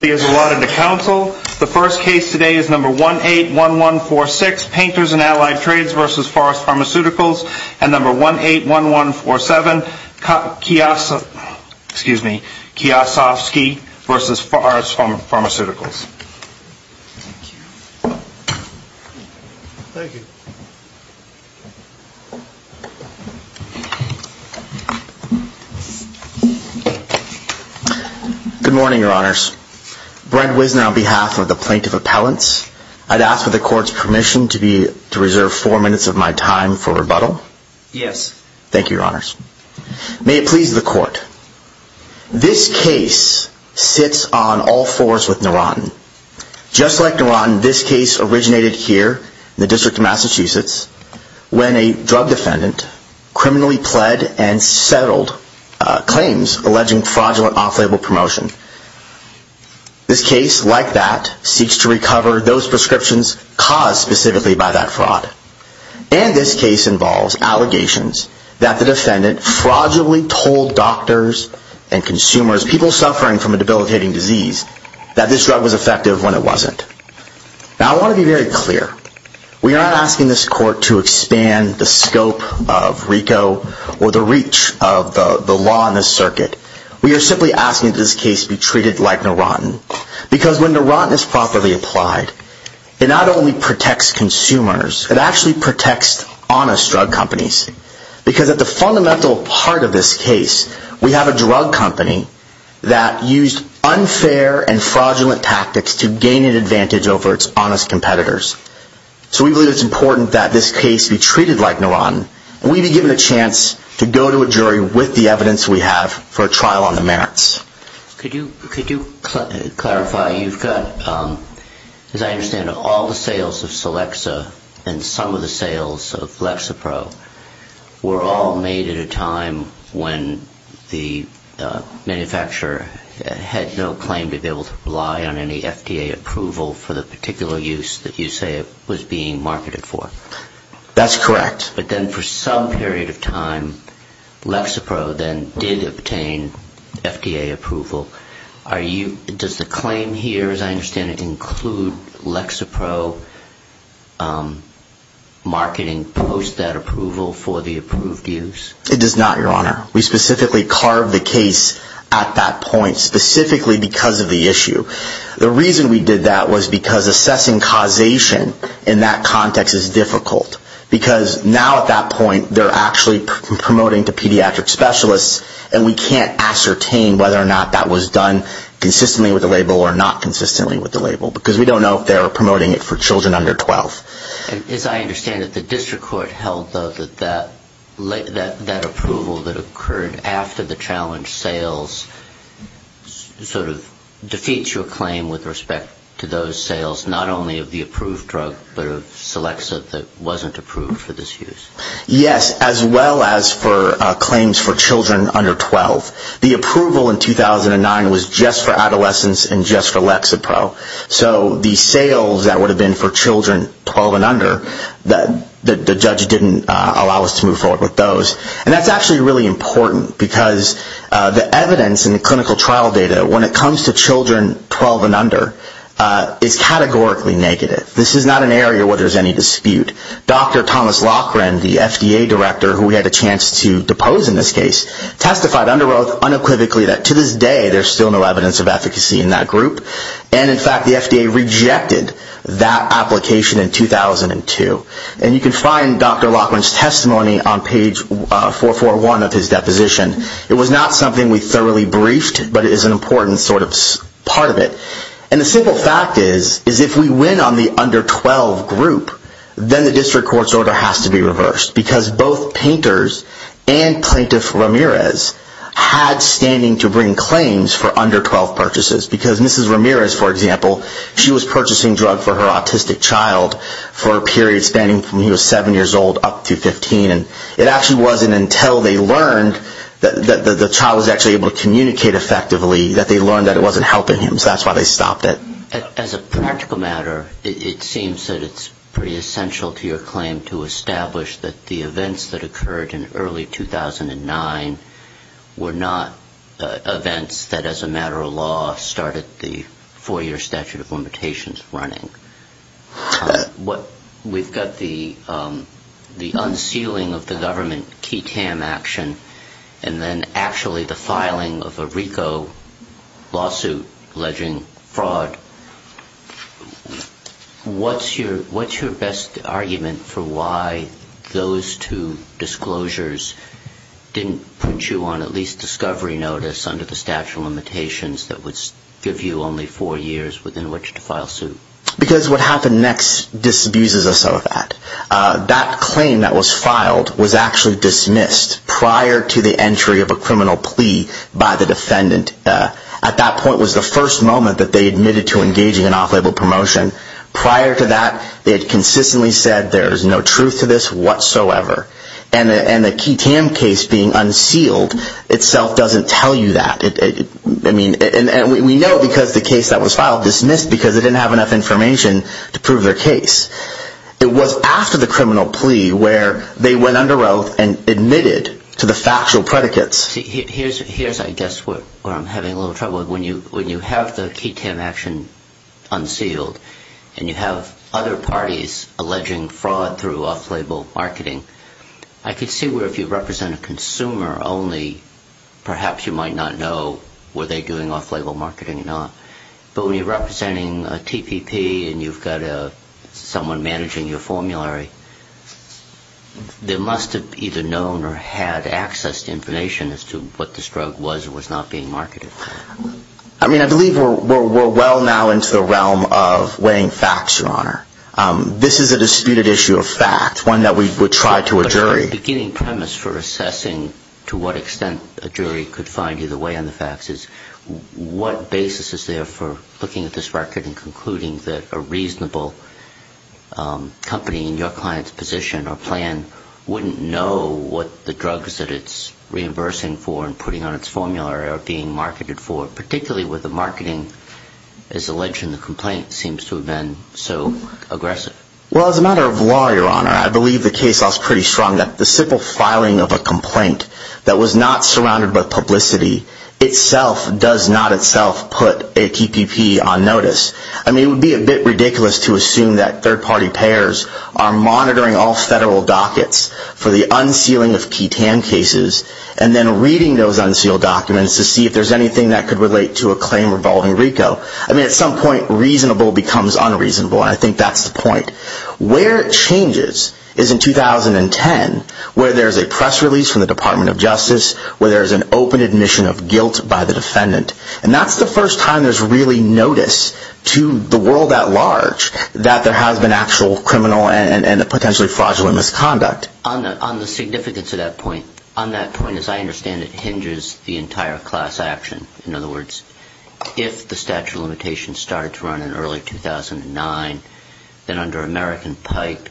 The first case today is number 181146, Painters and Allied Trades v. Forest Pharmaceuticals, and number 181147, Kiyosofsky v. Forest Pharmaceuticals. Thank you. Good morning, Your Honors. Brent Wisner on behalf of the Plaintiff Appellants. I'd ask for the Court's permission to reserve four minutes of my time for rebuttal. Yes. Thank you, Your Honors. May it please the Court. This case sits on all fours with Narotin. Just like Narotin, this case originated here in the District of Massachusetts when a drug defendant criminally pled and settled claims alleging fraudulent off-label promotion. This case, like that, seeks to recover those prescriptions caused specifically by that fraud. And this case involves allegations that the defendant fraudulently told doctors and consumers, people suffering from a debilitating disease, that this drug was effective when it wasn't. Now, I want to be very clear. We are not asking this Court to expand the scope of RICO or the reach of the law in this circuit. We are simply asking that this case be treated like Narotin. Because when Narotin is properly applied, it not only protects consumers, it actually protects honest drug companies. Because at the fundamental part of this case, we have a drug company that used unfair and fraudulent tactics to gain an advantage over its honest competitors. So we believe it's important that this case be treated like Narotin. And we'd be given a chance to go to a jury with the evidence we have for a trial on the merits. Could you clarify? You've got, as I understand it, all the sales of Celexa and some of the sales of Lexapro were all made at a time when the manufacturer had no claim to be able to rely on any FDA approval for the particular use that you say was being marketed for. That's correct. But then for some period of time, Lexapro then did obtain FDA approval. Does the claim here, as I understand it, include Lexapro marketing post that approval for the approved use? It does not, Your Honor. We specifically carved the case at that point specifically because of the issue. The reason we did that was because assessing causation in that context is difficult. Because now at that point, they're actually promoting to pediatric specialists, and we can't ascertain whether or not that was done consistently with the label or not consistently with the label. Because we don't know if they're promoting it for children under 12. As I understand it, the district court held, though, that that approval that occurred after the challenge sales sort of defeats your claim with respect to those sales, not only of the approved drug, but of Celexa that wasn't approved for this use. Yes, as well as for claims for children under 12. The approval in 2009 was just for adolescents and just for Lexapro. So the sales that would have been for children 12 and under, the judge didn't allow us to move forward with those. And that's actually really important because the evidence in the clinical trial data, when it comes to children 12 and under, is categorically negative. This is not an area where there's any dispute. Dr. Thomas Loughran, the FDA director who we had a chance to depose in this case, testified under oath unequivocally that to this day, there's still no evidence of efficacy in that group. And in fact, the FDA rejected that application in 2002. And you can find Dr. Loughran's testimony on page 441 of his deposition. It was not something we thoroughly briefed, but it is an important sort of part of it. And the simple fact is, is if we win on the under 12 group, then the district court's order has to be reversed. Because both Painters and Plaintiff Ramirez had standing to bring claims for under 12 purchases. Because Mrs. Ramirez, for example, she was purchasing drugs for her autistic child for a period spanning from when he was 7 years old up to 15. And it actually wasn't until they learned that the child was actually able to communicate effectively that they learned that it wasn't helping him, so that's why they stopped it. As a practical matter, it seems that it's pretty essential to your claim to establish that the events that occurred in early 2009 were not events that as a matter of law started the four-year statute of limitations running. We've got the unsealing of the government KTAM action, and then actually the filing of a RICO lawsuit alleging fraud. What's your best argument for why those two disclosures didn't put you on at least discovery notice under the statute of limitations that would give you only four years within which to file suit? Because what happened next disabuses us of that. That claim that was filed was actually dismissed prior to the entry of a criminal plea by the defendant. At that point was the first moment that they admitted to engaging in off-label promotion. Prior to that, they had consistently said there is no truth to this whatsoever. And the KTAM case being unsealed itself doesn't tell you that. We know because the case that was filed was dismissed because they didn't have enough information to prove their case. It was after the criminal plea where they went under oath and admitted to the factual predicates. Here's I guess where I'm having a little trouble. When you have the KTAM action unsealed and you have other parties alleging fraud through off-label marketing, I can see where if you represent a consumer only, perhaps you might not know were they doing off-label marketing or not. But when you're representing a TPP and you've got someone managing your formulary, they must have either known or had access to information as to what this drug was or was not being marketed. I mean, I believe we're well now into the realm of weighing facts, Your Honor. This is a disputed issue of fact, one that we would try to a jury. The beginning premise for assessing to what extent a jury could find either way on the facts is what basis is there for looking at this record and concluding that a reasonable company in your client's position or plan wouldn't know what the drugs that it's reimbursing for and putting on its formula are being marketed for, particularly with the marketing, as alleged in the complaint, seems to have been so aggressive. Well, as a matter of law, Your Honor, I believe the case law is pretty strong. The simple filing of a complaint that was not surrounded by publicity itself does not itself put a TPP on notice. I mean, it would be a bit ridiculous to assume that third-party payers are monitoring all federal dockets for the unsealing of ketan cases and then reading those unsealed documents to see if there's anything that could relate to a claim involving RICO. I mean, at some point, reasonable becomes unreasonable, and I think that's the point. Where it changes is in 2010, where there's a press release from the Department of Justice, where there's an open admission of guilt by the defendant. And that's the first time there's really notice to the world at large that there has been actual criminal and potentially fraudulent misconduct. On the significance of that point, on that point, as I understand it, hinges the entire class action. In other words, if the statute of limitations started to run in early 2009, then under American Pike,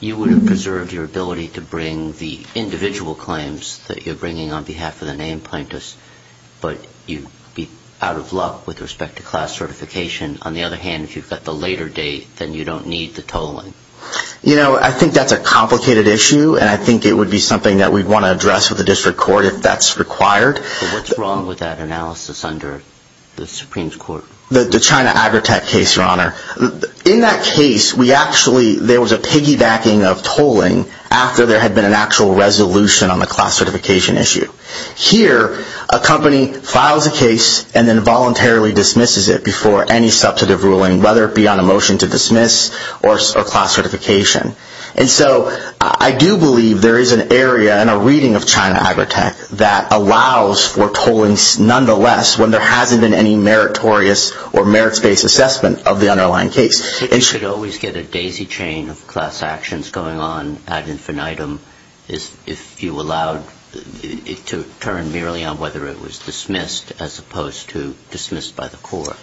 you would have preserved your ability to bring the individual claims that you're bringing on behalf of the named plaintiffs, but you'd be out of luck with respect to class certification. On the other hand, if you've got the later date, then you don't need the tolling. You know, I think that's a complicated issue, and I think it would be something that we'd want to address with the district court if that's required. What's wrong with that analysis under the Supreme Court? The China Agritech case, Your Honor. In that case, we actually, there was a piggybacking of tolling after there had been an actual resolution on the class certification issue. Here, a company files a case and then voluntarily dismisses it before any substantive ruling, whether it be on a motion to dismiss or class certification. And so, I do believe there is an area in a reading of China Agritech that allows for tolling nonetheless when there hasn't been any meritorious or merits-based assessment of the underlying case. You should always get a daisy chain of class actions going on ad infinitum if you allowed it to turn merely on whether it was dismissed as opposed to dismissed by the court.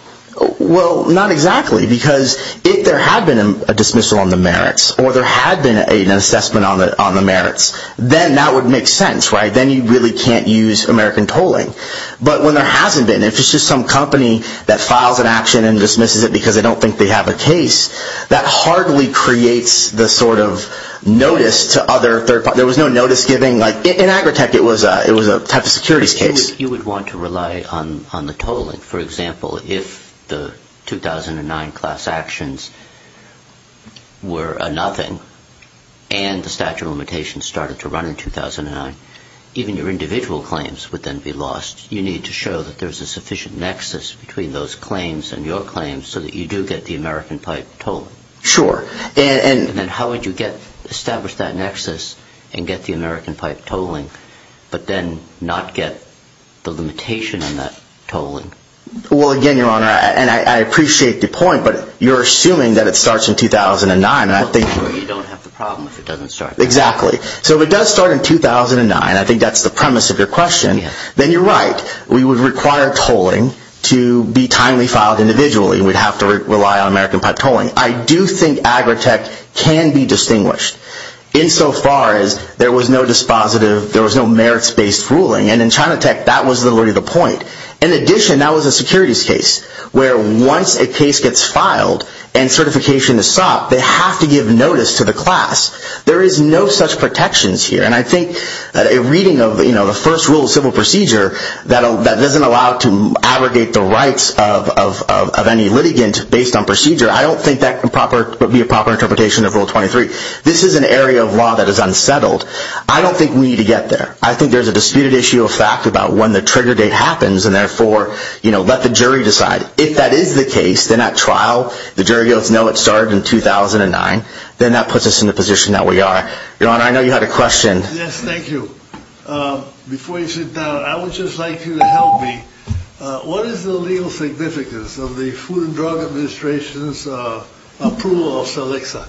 Well, not exactly, because if there had been a dismissal on the merits, or there had been an assessment on the merits, then that would make sense, right? Then you really can't use American tolling. But when there hasn't been, if it's just some company that files an action and dismisses it because they don't think they have a case, that hardly creates the sort of notice to other third parties. There was no notice giving. In Agritech, it was a type of securities case. You would want to rely on the tolling. For example, if the 2009 class actions were a nothing and the statute of limitations started to run in 2009, even your individual claims would then be lost. You need to show that there's a sufficient nexus between those claims and your claims so that you do get the American pipe tolling. Sure. Then how would you establish that nexus and get the American pipe tolling, but then not get the limitation on that tolling? Well, again, Your Honor, and I appreciate the point, but you're assuming that it starts in 2009. You don't have the problem if it doesn't start in 2009. Exactly. So if it does start in 2009, I think that's the premise of your question, then you're right. We would require tolling to be timely filed individually. We'd have to rely on American pipe tolling. I do think Agritech can be distinguished insofar as there was no dispositive, there was no merits-based ruling, and in Chinatech, that was already the point. In addition, that was a securities case where once a case gets filed and certification is sought, they have to give notice to the class. There is no such protections here, and I think a reading of the first rule of civil procedure that doesn't allow to abrogate the rights of any litigant based on procedure, I don't think that would be a proper interpretation of Rule 23. This is an area of law that is unsettled. I don't think we need to get there. I think there's a disputed issue of fact about when the trigger date happens, and therefore, you know, let the jury decide. If that is the case, then at trial, the jury goes, no, it started in 2009, then that puts us in the position that we are. Your Honor, I know you had a question. Yes, thank you. Before you sit down, I would just like you to help me. What is the legal significance of the Food and Drug Administration's approval of Salixa?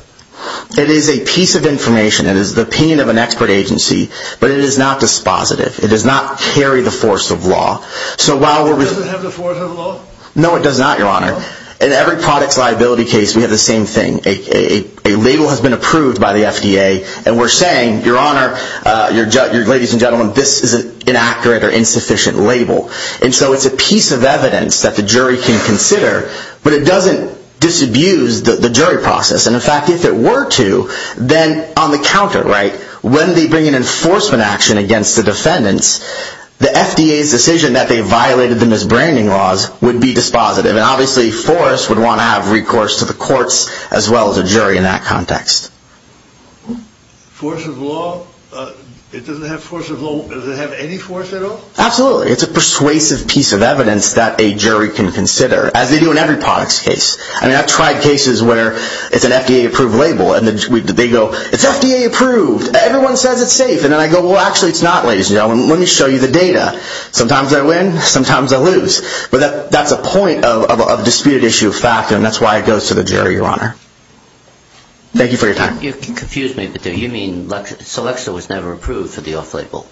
It is a piece of information. It is the opinion of an expert agency, but it is not dispositive. It does not carry the force of law. Does it have the force of law? No, it does not, Your Honor. In every products liability case, we have the same thing. A label has been approved by the FDA, and we're saying, Your Honor, ladies and gentlemen, this is an inaccurate or insufficient label. And so it's a piece of evidence that the jury can consider, but it doesn't disabuse the jury process. And in fact, if it were to, then on the counter, right, when they bring an enforcement action against the defendants, the FDA's decision that they violated the misbranding laws would be dispositive. And obviously, force would want to have recourse to the courts as well as a jury in that context. Force of law? It doesn't have force of law. Does it have any force at all? Absolutely. It's a persuasive piece of evidence that a jury can consider, as they do in every products case. I mean, I've tried cases where it's an FDA-approved label, and they go, It's FDA-approved. Everyone says it's safe. And then I go, Well, actually, it's not, ladies and gentlemen. Let me show you the data. Sometimes I win. Sometimes I lose. But that's a point of disputed issue of fact, and that's why it goes to the jury, Your Honor. Thank you for your time. You confused me a bit there. You mean Selexa was never approved for the off-label?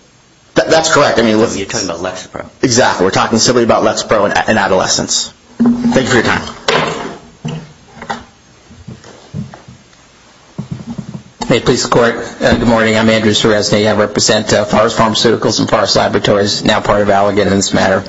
That's correct. You're talking about Lexapro. Exactly. We're talking simply about Lexapro in adolescence. Thank you for your time. Hey, police and court. Good morning. I'm Andrew Ceresney. I represent Forest Pharmaceuticals and Forest Laboratories, now part of Allegan in this matter.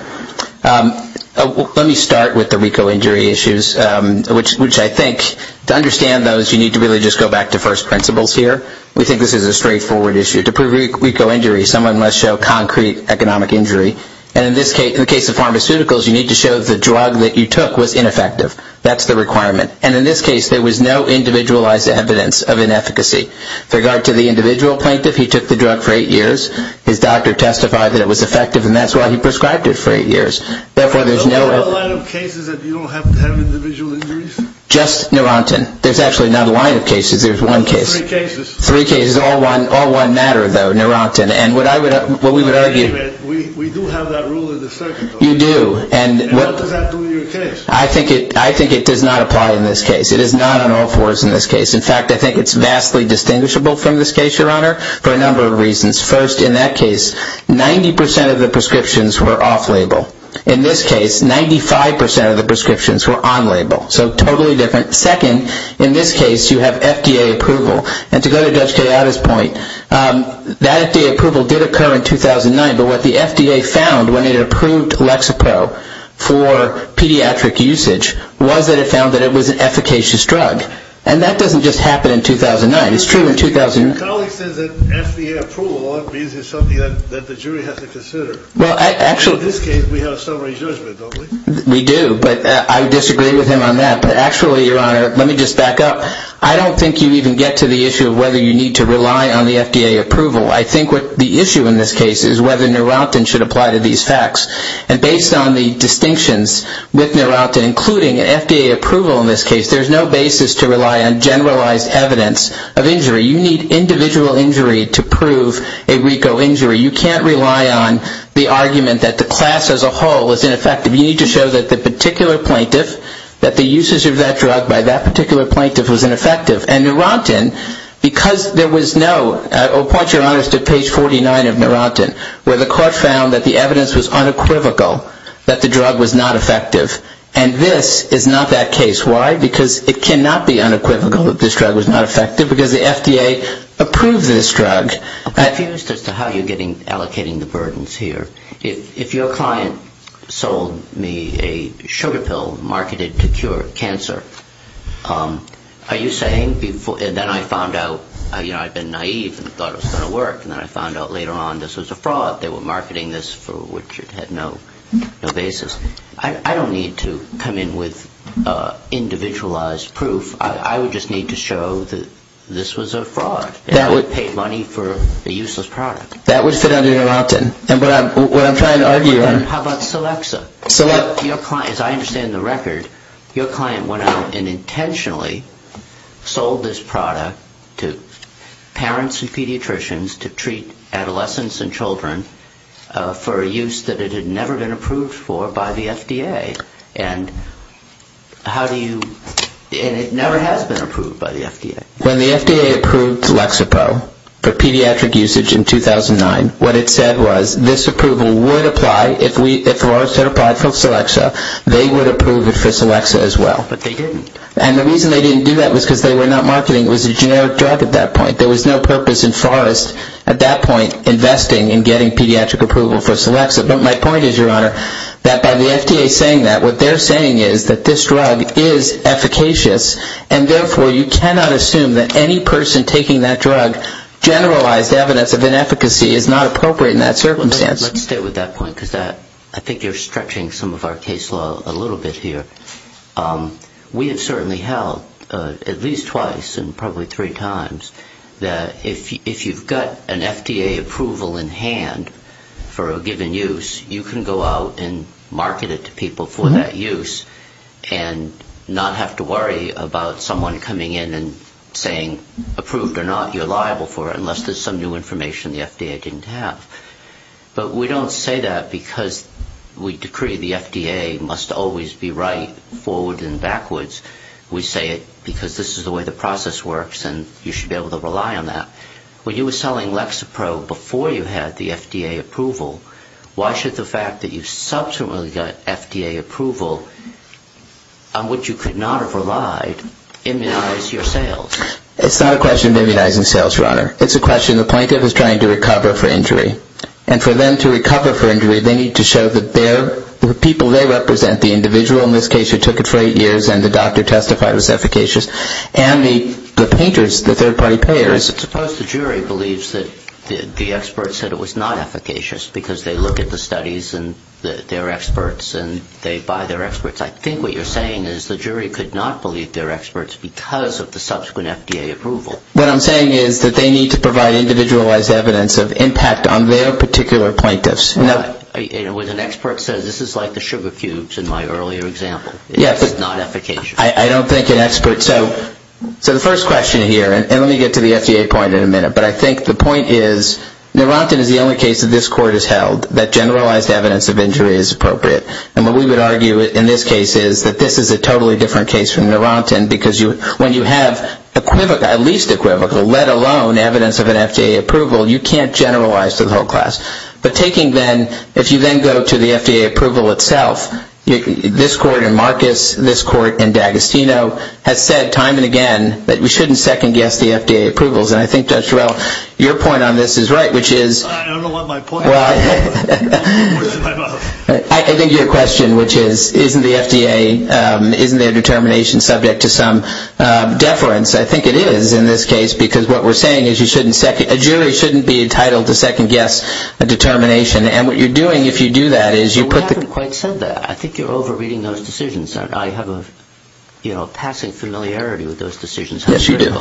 Let me start with the RICO injury issues, which I think, to understand those, you need to really just go back to first principles here. We think this is a straightforward issue. To prove RICO injury, someone must show concrete economic injury. And in the case of pharmaceuticals, you need to show the drug that you took was ineffective. That's the requirement. And in this case, there was no individualized evidence of inefficacy. With regard to the individual plaintiff, he took the drug for eight years. His doctor testified that it was effective, and that's why he prescribed it for eight years. Therefore, there's no – Is there a line of cases that you don't have to have individual injuries? Just Neurontin. There's actually not a line of cases. There's one case. Three cases. Three cases. All one matter, though, Neurontin. And what we would argue – We do have that rule in the circuit, though. You do. And what does that do to your case? I think it does not apply in this case. It is not on all fours in this case. In fact, I think it's vastly distinguishable from this case, Your Honor, for a number of reasons. First, in that case, 90 percent of the prescriptions were off-label. In this case, 95 percent of the prescriptions were on-label. So totally different. Second, in this case, you have FDA approval. And to go to Judge Kayada's point, that FDA approval did occur in 2009, but what the FDA found when it approved Lexapro for pediatric usage was that it found that it was an efficacious drug. And that doesn't just happen in 2009. It's true in – Your colleague says that FDA approval often means it's something that the jury has to consider. Well, actually – In this case, we have a summary judgment, don't we? We do, but I disagree with him on that. But actually, Your Honor, let me just back up. I don't think you even get to the issue of whether you need to rely on the FDA approval. I think the issue in this case is whether Neurontin should apply to these facts. And based on the distinctions with Neurontin, including FDA approval in this case, there's no basis to rely on generalized evidence of injury. You need individual injury to prove a RICO injury. You can't rely on the argument that the class as a whole is ineffective. You need to show that the particular plaintiff, that the usage of that drug by that particular plaintiff was ineffective. And Neurontin, because there was no – I'll point Your Honor to page 49 of Neurontin, where the court found that the evidence was unequivocal that the drug was not effective. And this is not that case. Why? Because it cannot be unequivocal that this drug was not effective because the FDA approved this drug. I'm confused as to how you're allocating the burdens here. If your client sold me a sugar pill marketed to cure cancer, are you saying – and then I found out, you know, I'd been naive and thought it was going to work. And then I found out later on this was a fraud. They were marketing this for which it had no basis. I don't need to come in with individualized proof. I would just need to show that this was a fraud and I would pay money for a useless product. That would fit under Neurontin. And what I'm trying to argue on – How about Celexa? As I understand the record, your client went out and intentionally sold this product to parents and pediatricians to treat adolescents and children for a use that it had never been approved for by the FDA. And how do you – and it never has been approved by the FDA. When the FDA approved Celexa Pro for pediatric usage in 2009, what it said was this approval would apply if we – if Forrest had applied for Celexa, they would approve it for Celexa as well. But they didn't. And the reason they didn't do that was because they were not marketing. It was a generic drug at that point. There was no purpose in Forrest at that point investing in getting pediatric approval for Celexa. But my point is, Your Honor, that by the FDA saying that, what they're saying is that this drug is efficacious and therefore you cannot assume that any person taking that drug, generalized evidence of inefficacy, is not appropriate in that circumstance. Let's stay with that point because I think you're stretching some of our case law a little bit here. We have certainly held at least twice and probably three times that if you've got an FDA approval in hand for a given use, you can go out and market it to people for that use and not have to worry about someone coming in and saying, approved or not, you're liable for it, unless there's some new information the FDA didn't have. But we don't say that because we decree the FDA must always be right, forward and backwards. We say it because this is the way the process works and you should be able to rely on that. When you were selling Lexapro before you had the FDA approval, why should the fact that you subsequently got FDA approval, on which you could not have relied, immunize your sales? It's not a question of immunizing sales, Your Honor. It's a question the plaintiff is trying to recover for injury. And for them to recover for injury, they need to show that the people they represent, the individual in this case who took it for eight years and the doctor who testified was efficacious, and the painters, the third-party payers. Suppose the jury believes that the expert said it was not efficacious because they look at the studies and they're experts and they buy their experts. I think what you're saying is the jury could not believe they're experts because of the subsequent FDA approval. What I'm saying is that they need to provide individualized evidence of impact on their particular plaintiffs. As an expert says, this is like the sugar cubes in my earlier example. It's not efficacious. I don't think an expert... So the first question here, and let me get to the FDA point in a minute, but I think the point is Narantan is the only case that this Court has held that generalized evidence of injury is appropriate. And what we would argue in this case is that this is a totally different case from Narantan because when you have at least equivocal, let alone evidence of an FDA approval, you can't generalize to the whole class. But taking then, if you then go to the FDA approval itself, this Court and Marcus, this Court and D'Agostino has said time and again that we shouldn't second-guess the FDA approvals. And I think Judge Durell, your point on this is right, which is... I don't know what my point is. I think your question, which is isn't the FDA, isn't their determination subject to some deference? I think it is in this case because what we're saying is you shouldn't second... a determination. And what you're doing if you do that is you put the... We haven't quite said that. I think you're over-reading those decisions. I have a passing familiarity with those decisions. Yes, you do.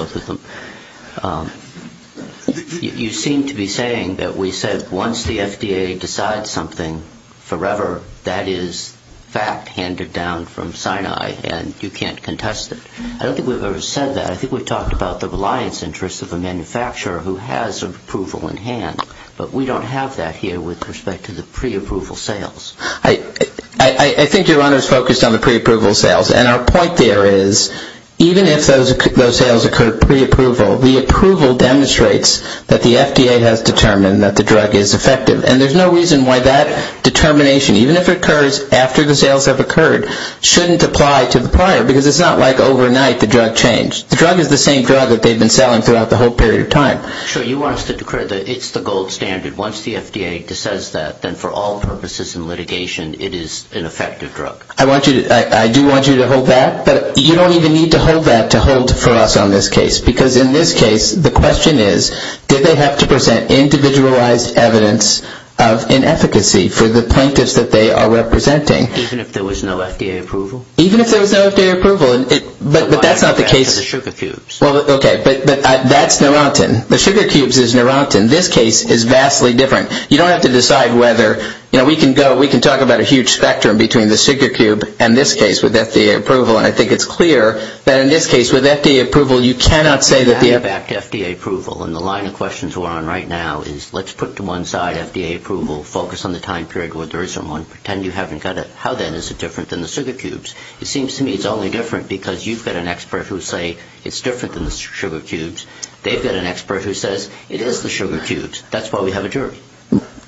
You seem to be saying that we said once the FDA decides something forever, that is fact handed down from Sinai and you can't contest it. I don't think we've ever said that. I think we've talked about the reliance interests of a manufacturer who has approval in hand, but we don't have that here with respect to the pre-approval sales. I think your honor is focused on the pre-approval sales, and our point there is even if those sales occur pre-approval, the approval demonstrates that the FDA has determined that the drug is effective. And there's no reason why that determination, even if it occurs after the sales have occurred, shouldn't apply to the prior because it's not like overnight the drug changed. The drug is the same drug that they've been selling throughout the whole period of time. Sure. You want us to declare that it's the gold standard. Once the FDA decides that, then for all purposes in litigation, it is an effective drug. I do want you to hold that, but you don't even need to hold that to hold for us on this case because in this case the question is did they have to present individualized evidence of inefficacy for the plaintiffs that they are representing? Even if there was no FDA approval? Even if there was no FDA approval, but that's not the case. Okay, but that's Neurontin. The sugar cubes is Neurontin. This case is vastly different. You don't have to decide whether, you know, we can go, we can talk about a huge spectrum between the sugar cube and this case with FDA approval, and I think it's clear that in this case with FDA approval, you cannot say that the FDA approval. And the line of questions we're on right now is let's put to one side FDA approval, focus on the time period where there isn't one. Pretend you haven't got it. How then is it different than the sugar cubes? It seems to me it's only different because you've got an expert who will say it's different than the sugar cubes. They've got an expert who says it is the sugar cubes. That's why we have a jury.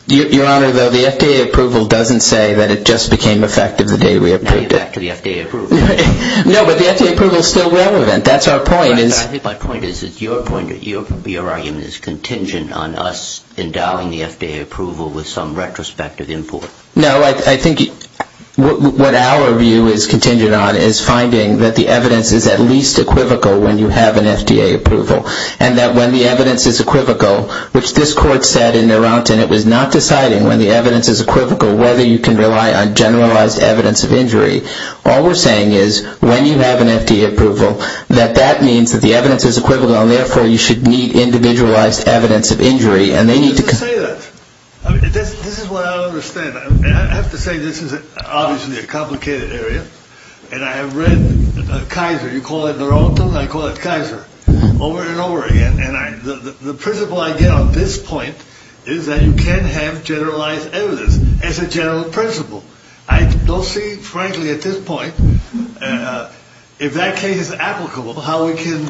Your Honor, though, the FDA approval doesn't say that it just became effective the day we approved it. Now you're back to the FDA approval. No, but the FDA approval is still relevant. That's our point. I think my point is that your argument is contingent on us endowing the FDA approval with some retrospective import. No, I think what our view is contingent on is finding that the evidence is at least equivocal when you have an FDA approval and that when the evidence is equivocal, which this court said in Naranton, it was not deciding when the evidence is equivocal whether you can rely on generalized evidence of injury. All we're saying is when you have an FDA approval, that that means that the evidence is equivocal and therefore you should need individualized evidence of injury. This is what I don't understand. I have to say this is obviously a complicated area, and I have read Kaiser. You call it Naranton. I call it Kaiser over and over again. And the principle I get on this point is that you can have generalized evidence as a general principle. I don't see, frankly, at this point, if that case is applicable, how we can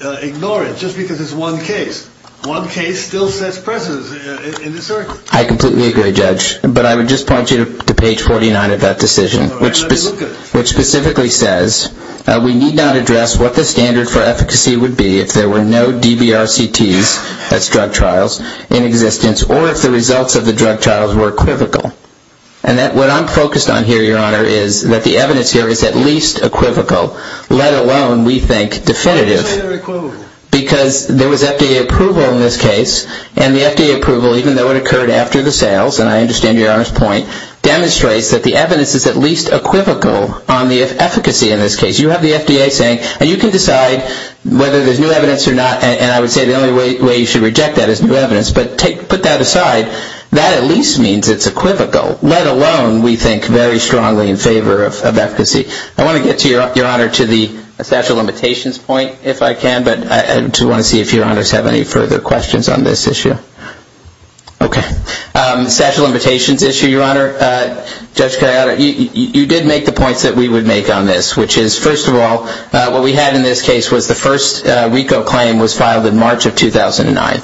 ignore it just because it's one case. One case still sets precedence in this circuit. I completely agree, Judge, but I would just point you to page 49 of that decision, which specifically says we need not address what the standard for efficacy would be if there were no DBRCTs as drug trials in existence or if the results of the drug trials were equivocal. And what I'm focused on here, Your Honor, is that the evidence here is at least equivocal, let alone we think definitive, because there was FDA approval in this case, and the FDA approval, even though it occurred after the sales, and I understand Your Honor's point, demonstrates that the evidence is at least equivocal on the efficacy in this case. You have the FDA saying, and you can decide whether there's new evidence or not, and I would say the only way you should reject that is new evidence, but put that aside, that at least means it's equivocal, let alone we think very strongly in favor of efficacy. I want to get, Your Honor, to the statute of limitations point, if I can, but I just want to see if Your Honors have any further questions on this issue. Okay. Statute of limitations issue, Your Honor. Judge Cariotta, you did make the points that we would make on this, which is, first of all, what we had in this case was the first RICO claim was filed in March of 2009.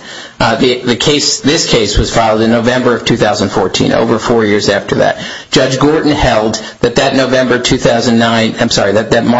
This case was filed in November of 2014, over four years after that. Judge Gorton held that that March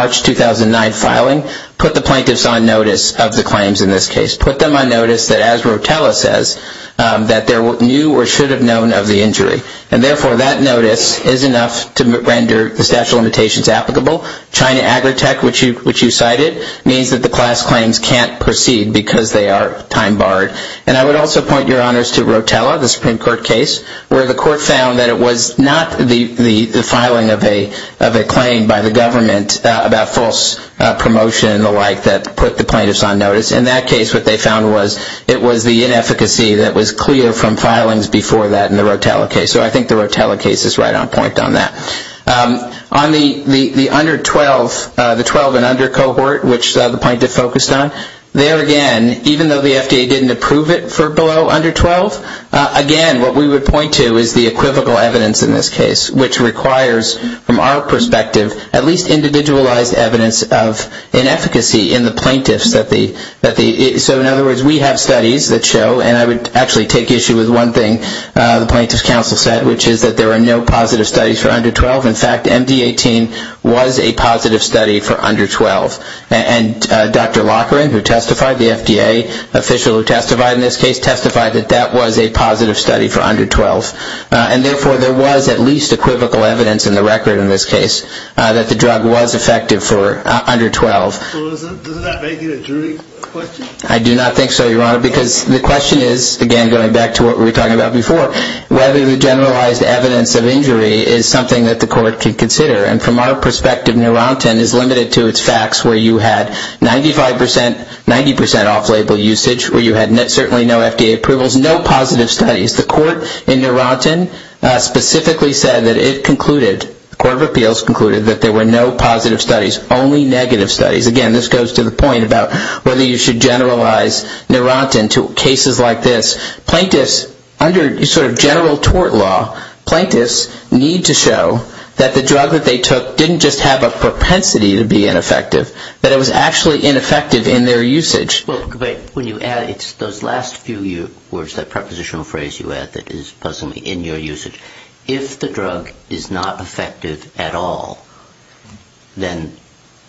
2009 filing put the plaintiffs on notice of the claims in this case, put them on notice that, as Rotella says, that they knew or should have known of the injury, and therefore that notice is enough to render the statute of limitations applicable. China Agritech, which you cited, means that the class claims can't proceed because they are time-barred. And I would also point, Your Honors, to Rotella, the Supreme Court case, where the court found that it was not the filing of a claim by the government about false promotion and the like that put the plaintiffs on notice. In that case, what they found was it was the inefficacy that was clear from filings before that in the Rotella case. So I think the Rotella case is right on point on that. On the under 12, the 12 and under cohort, which the plaintiff focused on, there again, even though the FDA didn't approve it for below under 12, again, what we would point to is the equivocal evidence in this case, which requires, from our perspective, at least individualized evidence of inefficacy in the plaintiffs. So in other words, we have studies that show, and I would actually take issue with one thing the Plaintiffs' Counsel said, which is that there are no positive studies for under 12. In fact, MD-18 was a positive study for under 12. And Dr. Loughran, who testified, the FDA official who testified in this case, testified that that was a positive study for under 12. And therefore, there was at least equivocal evidence in the record in this case that the drug was effective for under 12. So doesn't that make you a jury question? I do not think so, Your Honor, because the question is, again, going back to what we were talking about before, whether the generalized evidence of injury is something that the court can consider. And from our perspective, Narantin is limited to its facts where you had 95 percent, 90 percent off-label usage, where you had certainly no FDA approvals, no positive studies. The court in Narantin specifically said that it concluded, the Court of Appeals concluded, that there were no positive studies, only negative studies. Again, this goes to the point about whether you should generalize Narantin to cases like this. Plaintiffs, under sort of general tort law, plaintiffs need to show that the drug that they took didn't just have a propensity to be ineffective, but it was actually ineffective in their usage. Well, but when you add, it's those last few words, that prepositional phrase you add that is puzzling me, in your usage. If the drug is not effective at all, then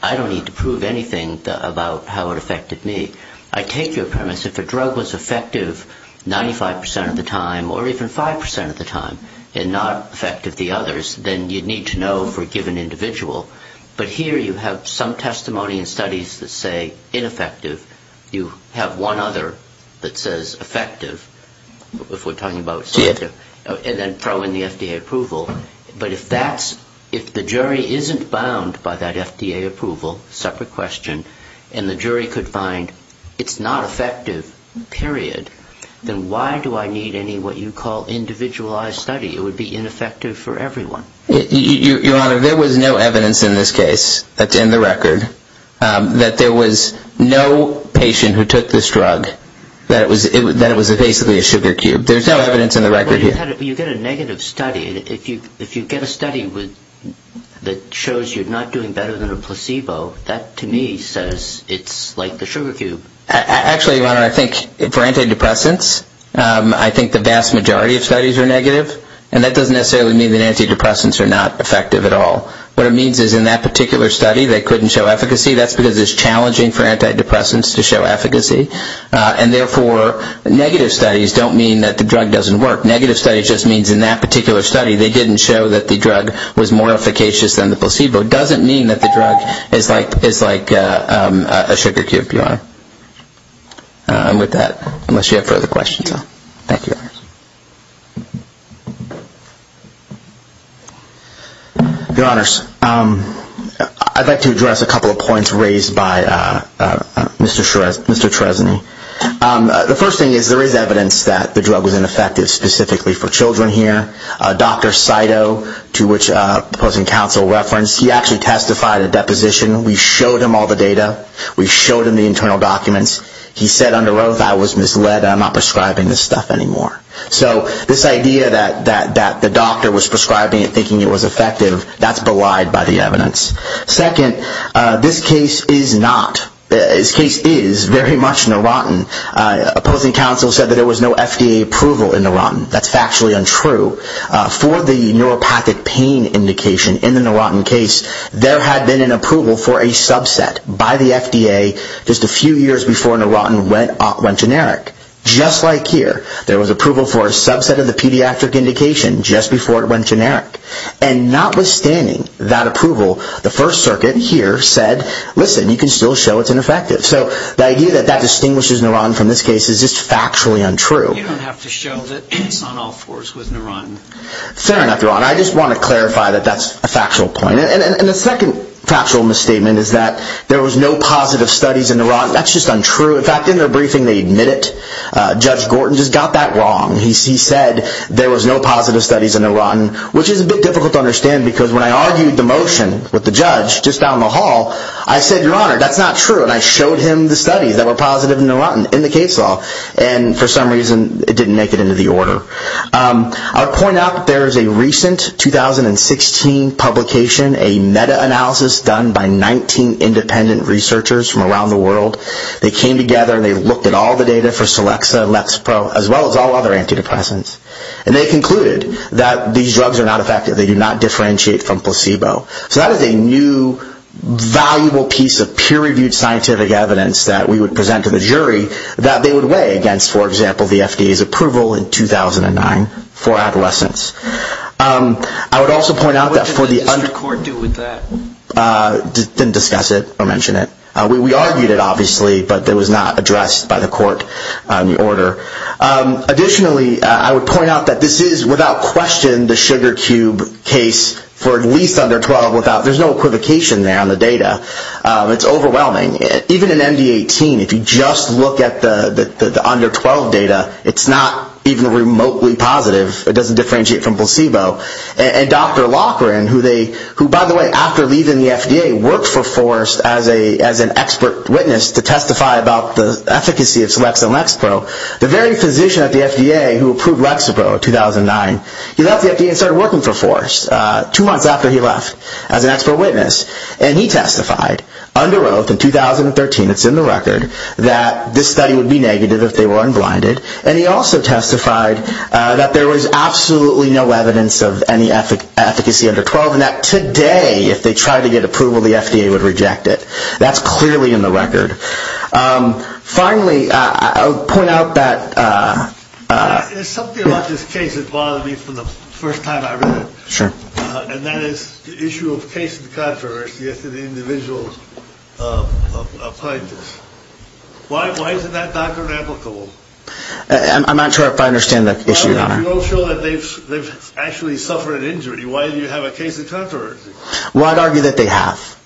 I don't need to prove anything about how it affected me. I take your premise, if a drug was effective 95 percent of the time, or even 5 percent of the time, and not effective the others, then you'd need to know for a given individual. But here you have some testimony and studies that say ineffective. You have one other that says effective, if we're talking about selective, and then throw in the FDA approval. But if the jury isn't bound by that FDA approval, separate question, and the jury could find it's not effective, period, then why do I need any what you call individualized study? It would be ineffective for everyone. Your Honor, there was no evidence in this case, in the record, that there was no patient who took this drug, that it was basically a sugar cube. There's no evidence in the record here. But you get a negative study. If you get a study that shows you're not doing better than a placebo, that to me says it's like the sugar cube. Actually, Your Honor, I think for antidepressants, I think the vast majority of studies are negative. And that doesn't necessarily mean that antidepressants are not effective at all. What it means is in that particular study, they couldn't show efficacy. That's because it's challenging for antidepressants to show efficacy. And therefore, negative studies don't mean that the drug doesn't work. Negative studies just means in that particular study, they didn't show that the drug was more efficacious than the placebo. It doesn't mean that the drug is like a sugar cube, Your Honor. With that, unless you have further questions. Thank you. Your Honors, I'd like to address a couple of points raised by Mr. Trezani. The first thing is there is evidence that the drug was ineffective specifically for children here. Dr. Saito, to which opposing counsel referenced, he actually testified at deposition. We showed him all the data. We showed him the internal documents. He said under oath, I was misled. I'm not prescribing this stuff anymore. So this idea that the doctor was prescribing it thinking it was effective, that's belied by the evidence. Second, this case is not, this case is very much Neurontin. Opposing counsel said that there was no FDA approval in Neurontin. That's factually untrue. For the neuropathic pain indication in the Neurontin case, there had been an approval for a subset by the FDA just a few years before Neurontin went generic. Just like here, there was approval for a subset of the pediatric indication just before it went generic. And notwithstanding that approval, the First Circuit here said, listen, you can still show it's ineffective. So the idea that that distinguishes Neurontin from this case is just factually untrue. You don't have to show that it's on all fours with Neurontin. Fair enough, Your Honor. I just want to clarify that that's a factual point. And the second factual misstatement is that there was no positive studies in Neurontin. That's just untrue. In fact, in their briefing, they admit it. Judge Gorton just got that wrong. He said there was no positive studies in Neurontin, which is a bit difficult to understand, because when I argued the motion with the judge just down the hall, I said, Your Honor, that's not true. And I showed him the studies that were positive in Neurontin in the case law. And for some reason, it didn't make it into the order. I'll point out that there is a recent 2016 publication, a meta-analysis done by 19 independent researchers from around the world. They came together and they looked at all the data for Celexa, Lexpro, as well as all other antidepressants. And they concluded that these drugs are not effective. They do not differentiate from placebo. So that is a new, valuable piece of peer-reviewed scientific evidence that we would present to the jury that they would weigh against, for example, the FDA's approval in 2009 for adolescents. I would also point out that for the- What did the district court do with that? Didn't discuss it or mention it. We argued it, obviously, but it was not addressed by the court on the order. Additionally, I would point out that this is, without question, the sugar cube case for at least under 12. There's no equivocation there on the data. It's overwhelming. Even in MD-18, if you just look at the under 12 data, it's not even remotely positive. It doesn't differentiate from placebo. And Dr. Loughran, who, by the way, after leaving the FDA, worked for Forrest as an expert witness to testify about the efficacy of Celexa and Lexpro, the very physician at the FDA who approved Lexapro in 2009, he left the FDA and started working for Forrest two months after he left as an expert witness. And he testified under oath in 2013, it's in the record, that this study would be negative if they were unblinded. And he also testified that there was absolutely no evidence of any efficacy under 12 and that today, if they tried to get approval, the FDA would reject it. That's clearly in the record. Finally, I would point out that... There's something about this case that bothers me from the first time I read it. Sure. And that is the issue of case controversy as to the individual's plaintiffs. Why isn't that doctrine applicable? I'm not sure if I understand the issue, Your Honor. You don't show that they've actually suffered an injury. Why do you have a case of controversy? Well, I'd argue that they have.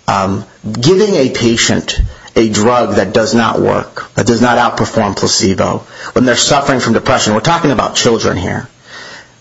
Giving a patient a drug that does not work, that does not outperform placebo, when they're suffering from depression, we're talking about children here,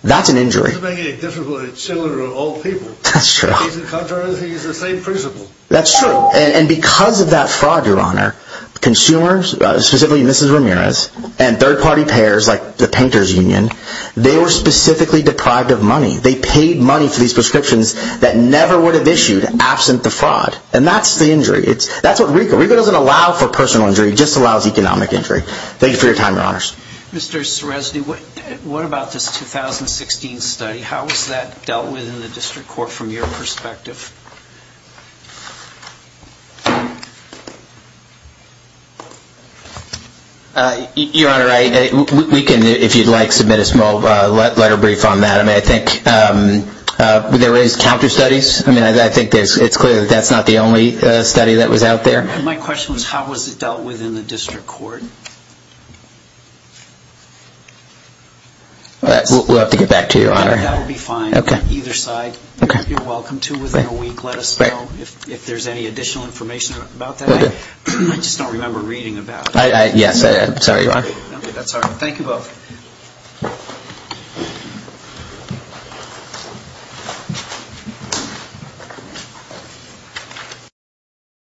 that's an injury. It doesn't make it difficult for children or old people. That's true. Case of controversy is the same principle. That's true. And because of that fraud, Your Honor, consumers, specifically Mrs. Ramirez and third-party payers like the Painters Union, they were specifically deprived of money. They paid money for these prescriptions that never would have issued absent the fraud. And that's the injury. That's what RICO. RICO doesn't allow for personal injury. It just allows economic injury. Thank you for your time, Your Honors. Mr. Seresny, what about this 2016 study? How was that dealt with in the district court from your perspective? Your Honor, we can, if you'd like, submit a small letter brief on that. I mean, I think there is counter studies. I mean, I think it's clear that that's not the only study that was out there. My question was how was it dealt with in the district court? We'll have to get back to you, Your Honor. That will be fine, either side. You're welcome to, within a week. Let us know if there's any additional information about that. I just don't remember reading about it. Yes. Sorry, Your Honor. That's all right. Thank you both.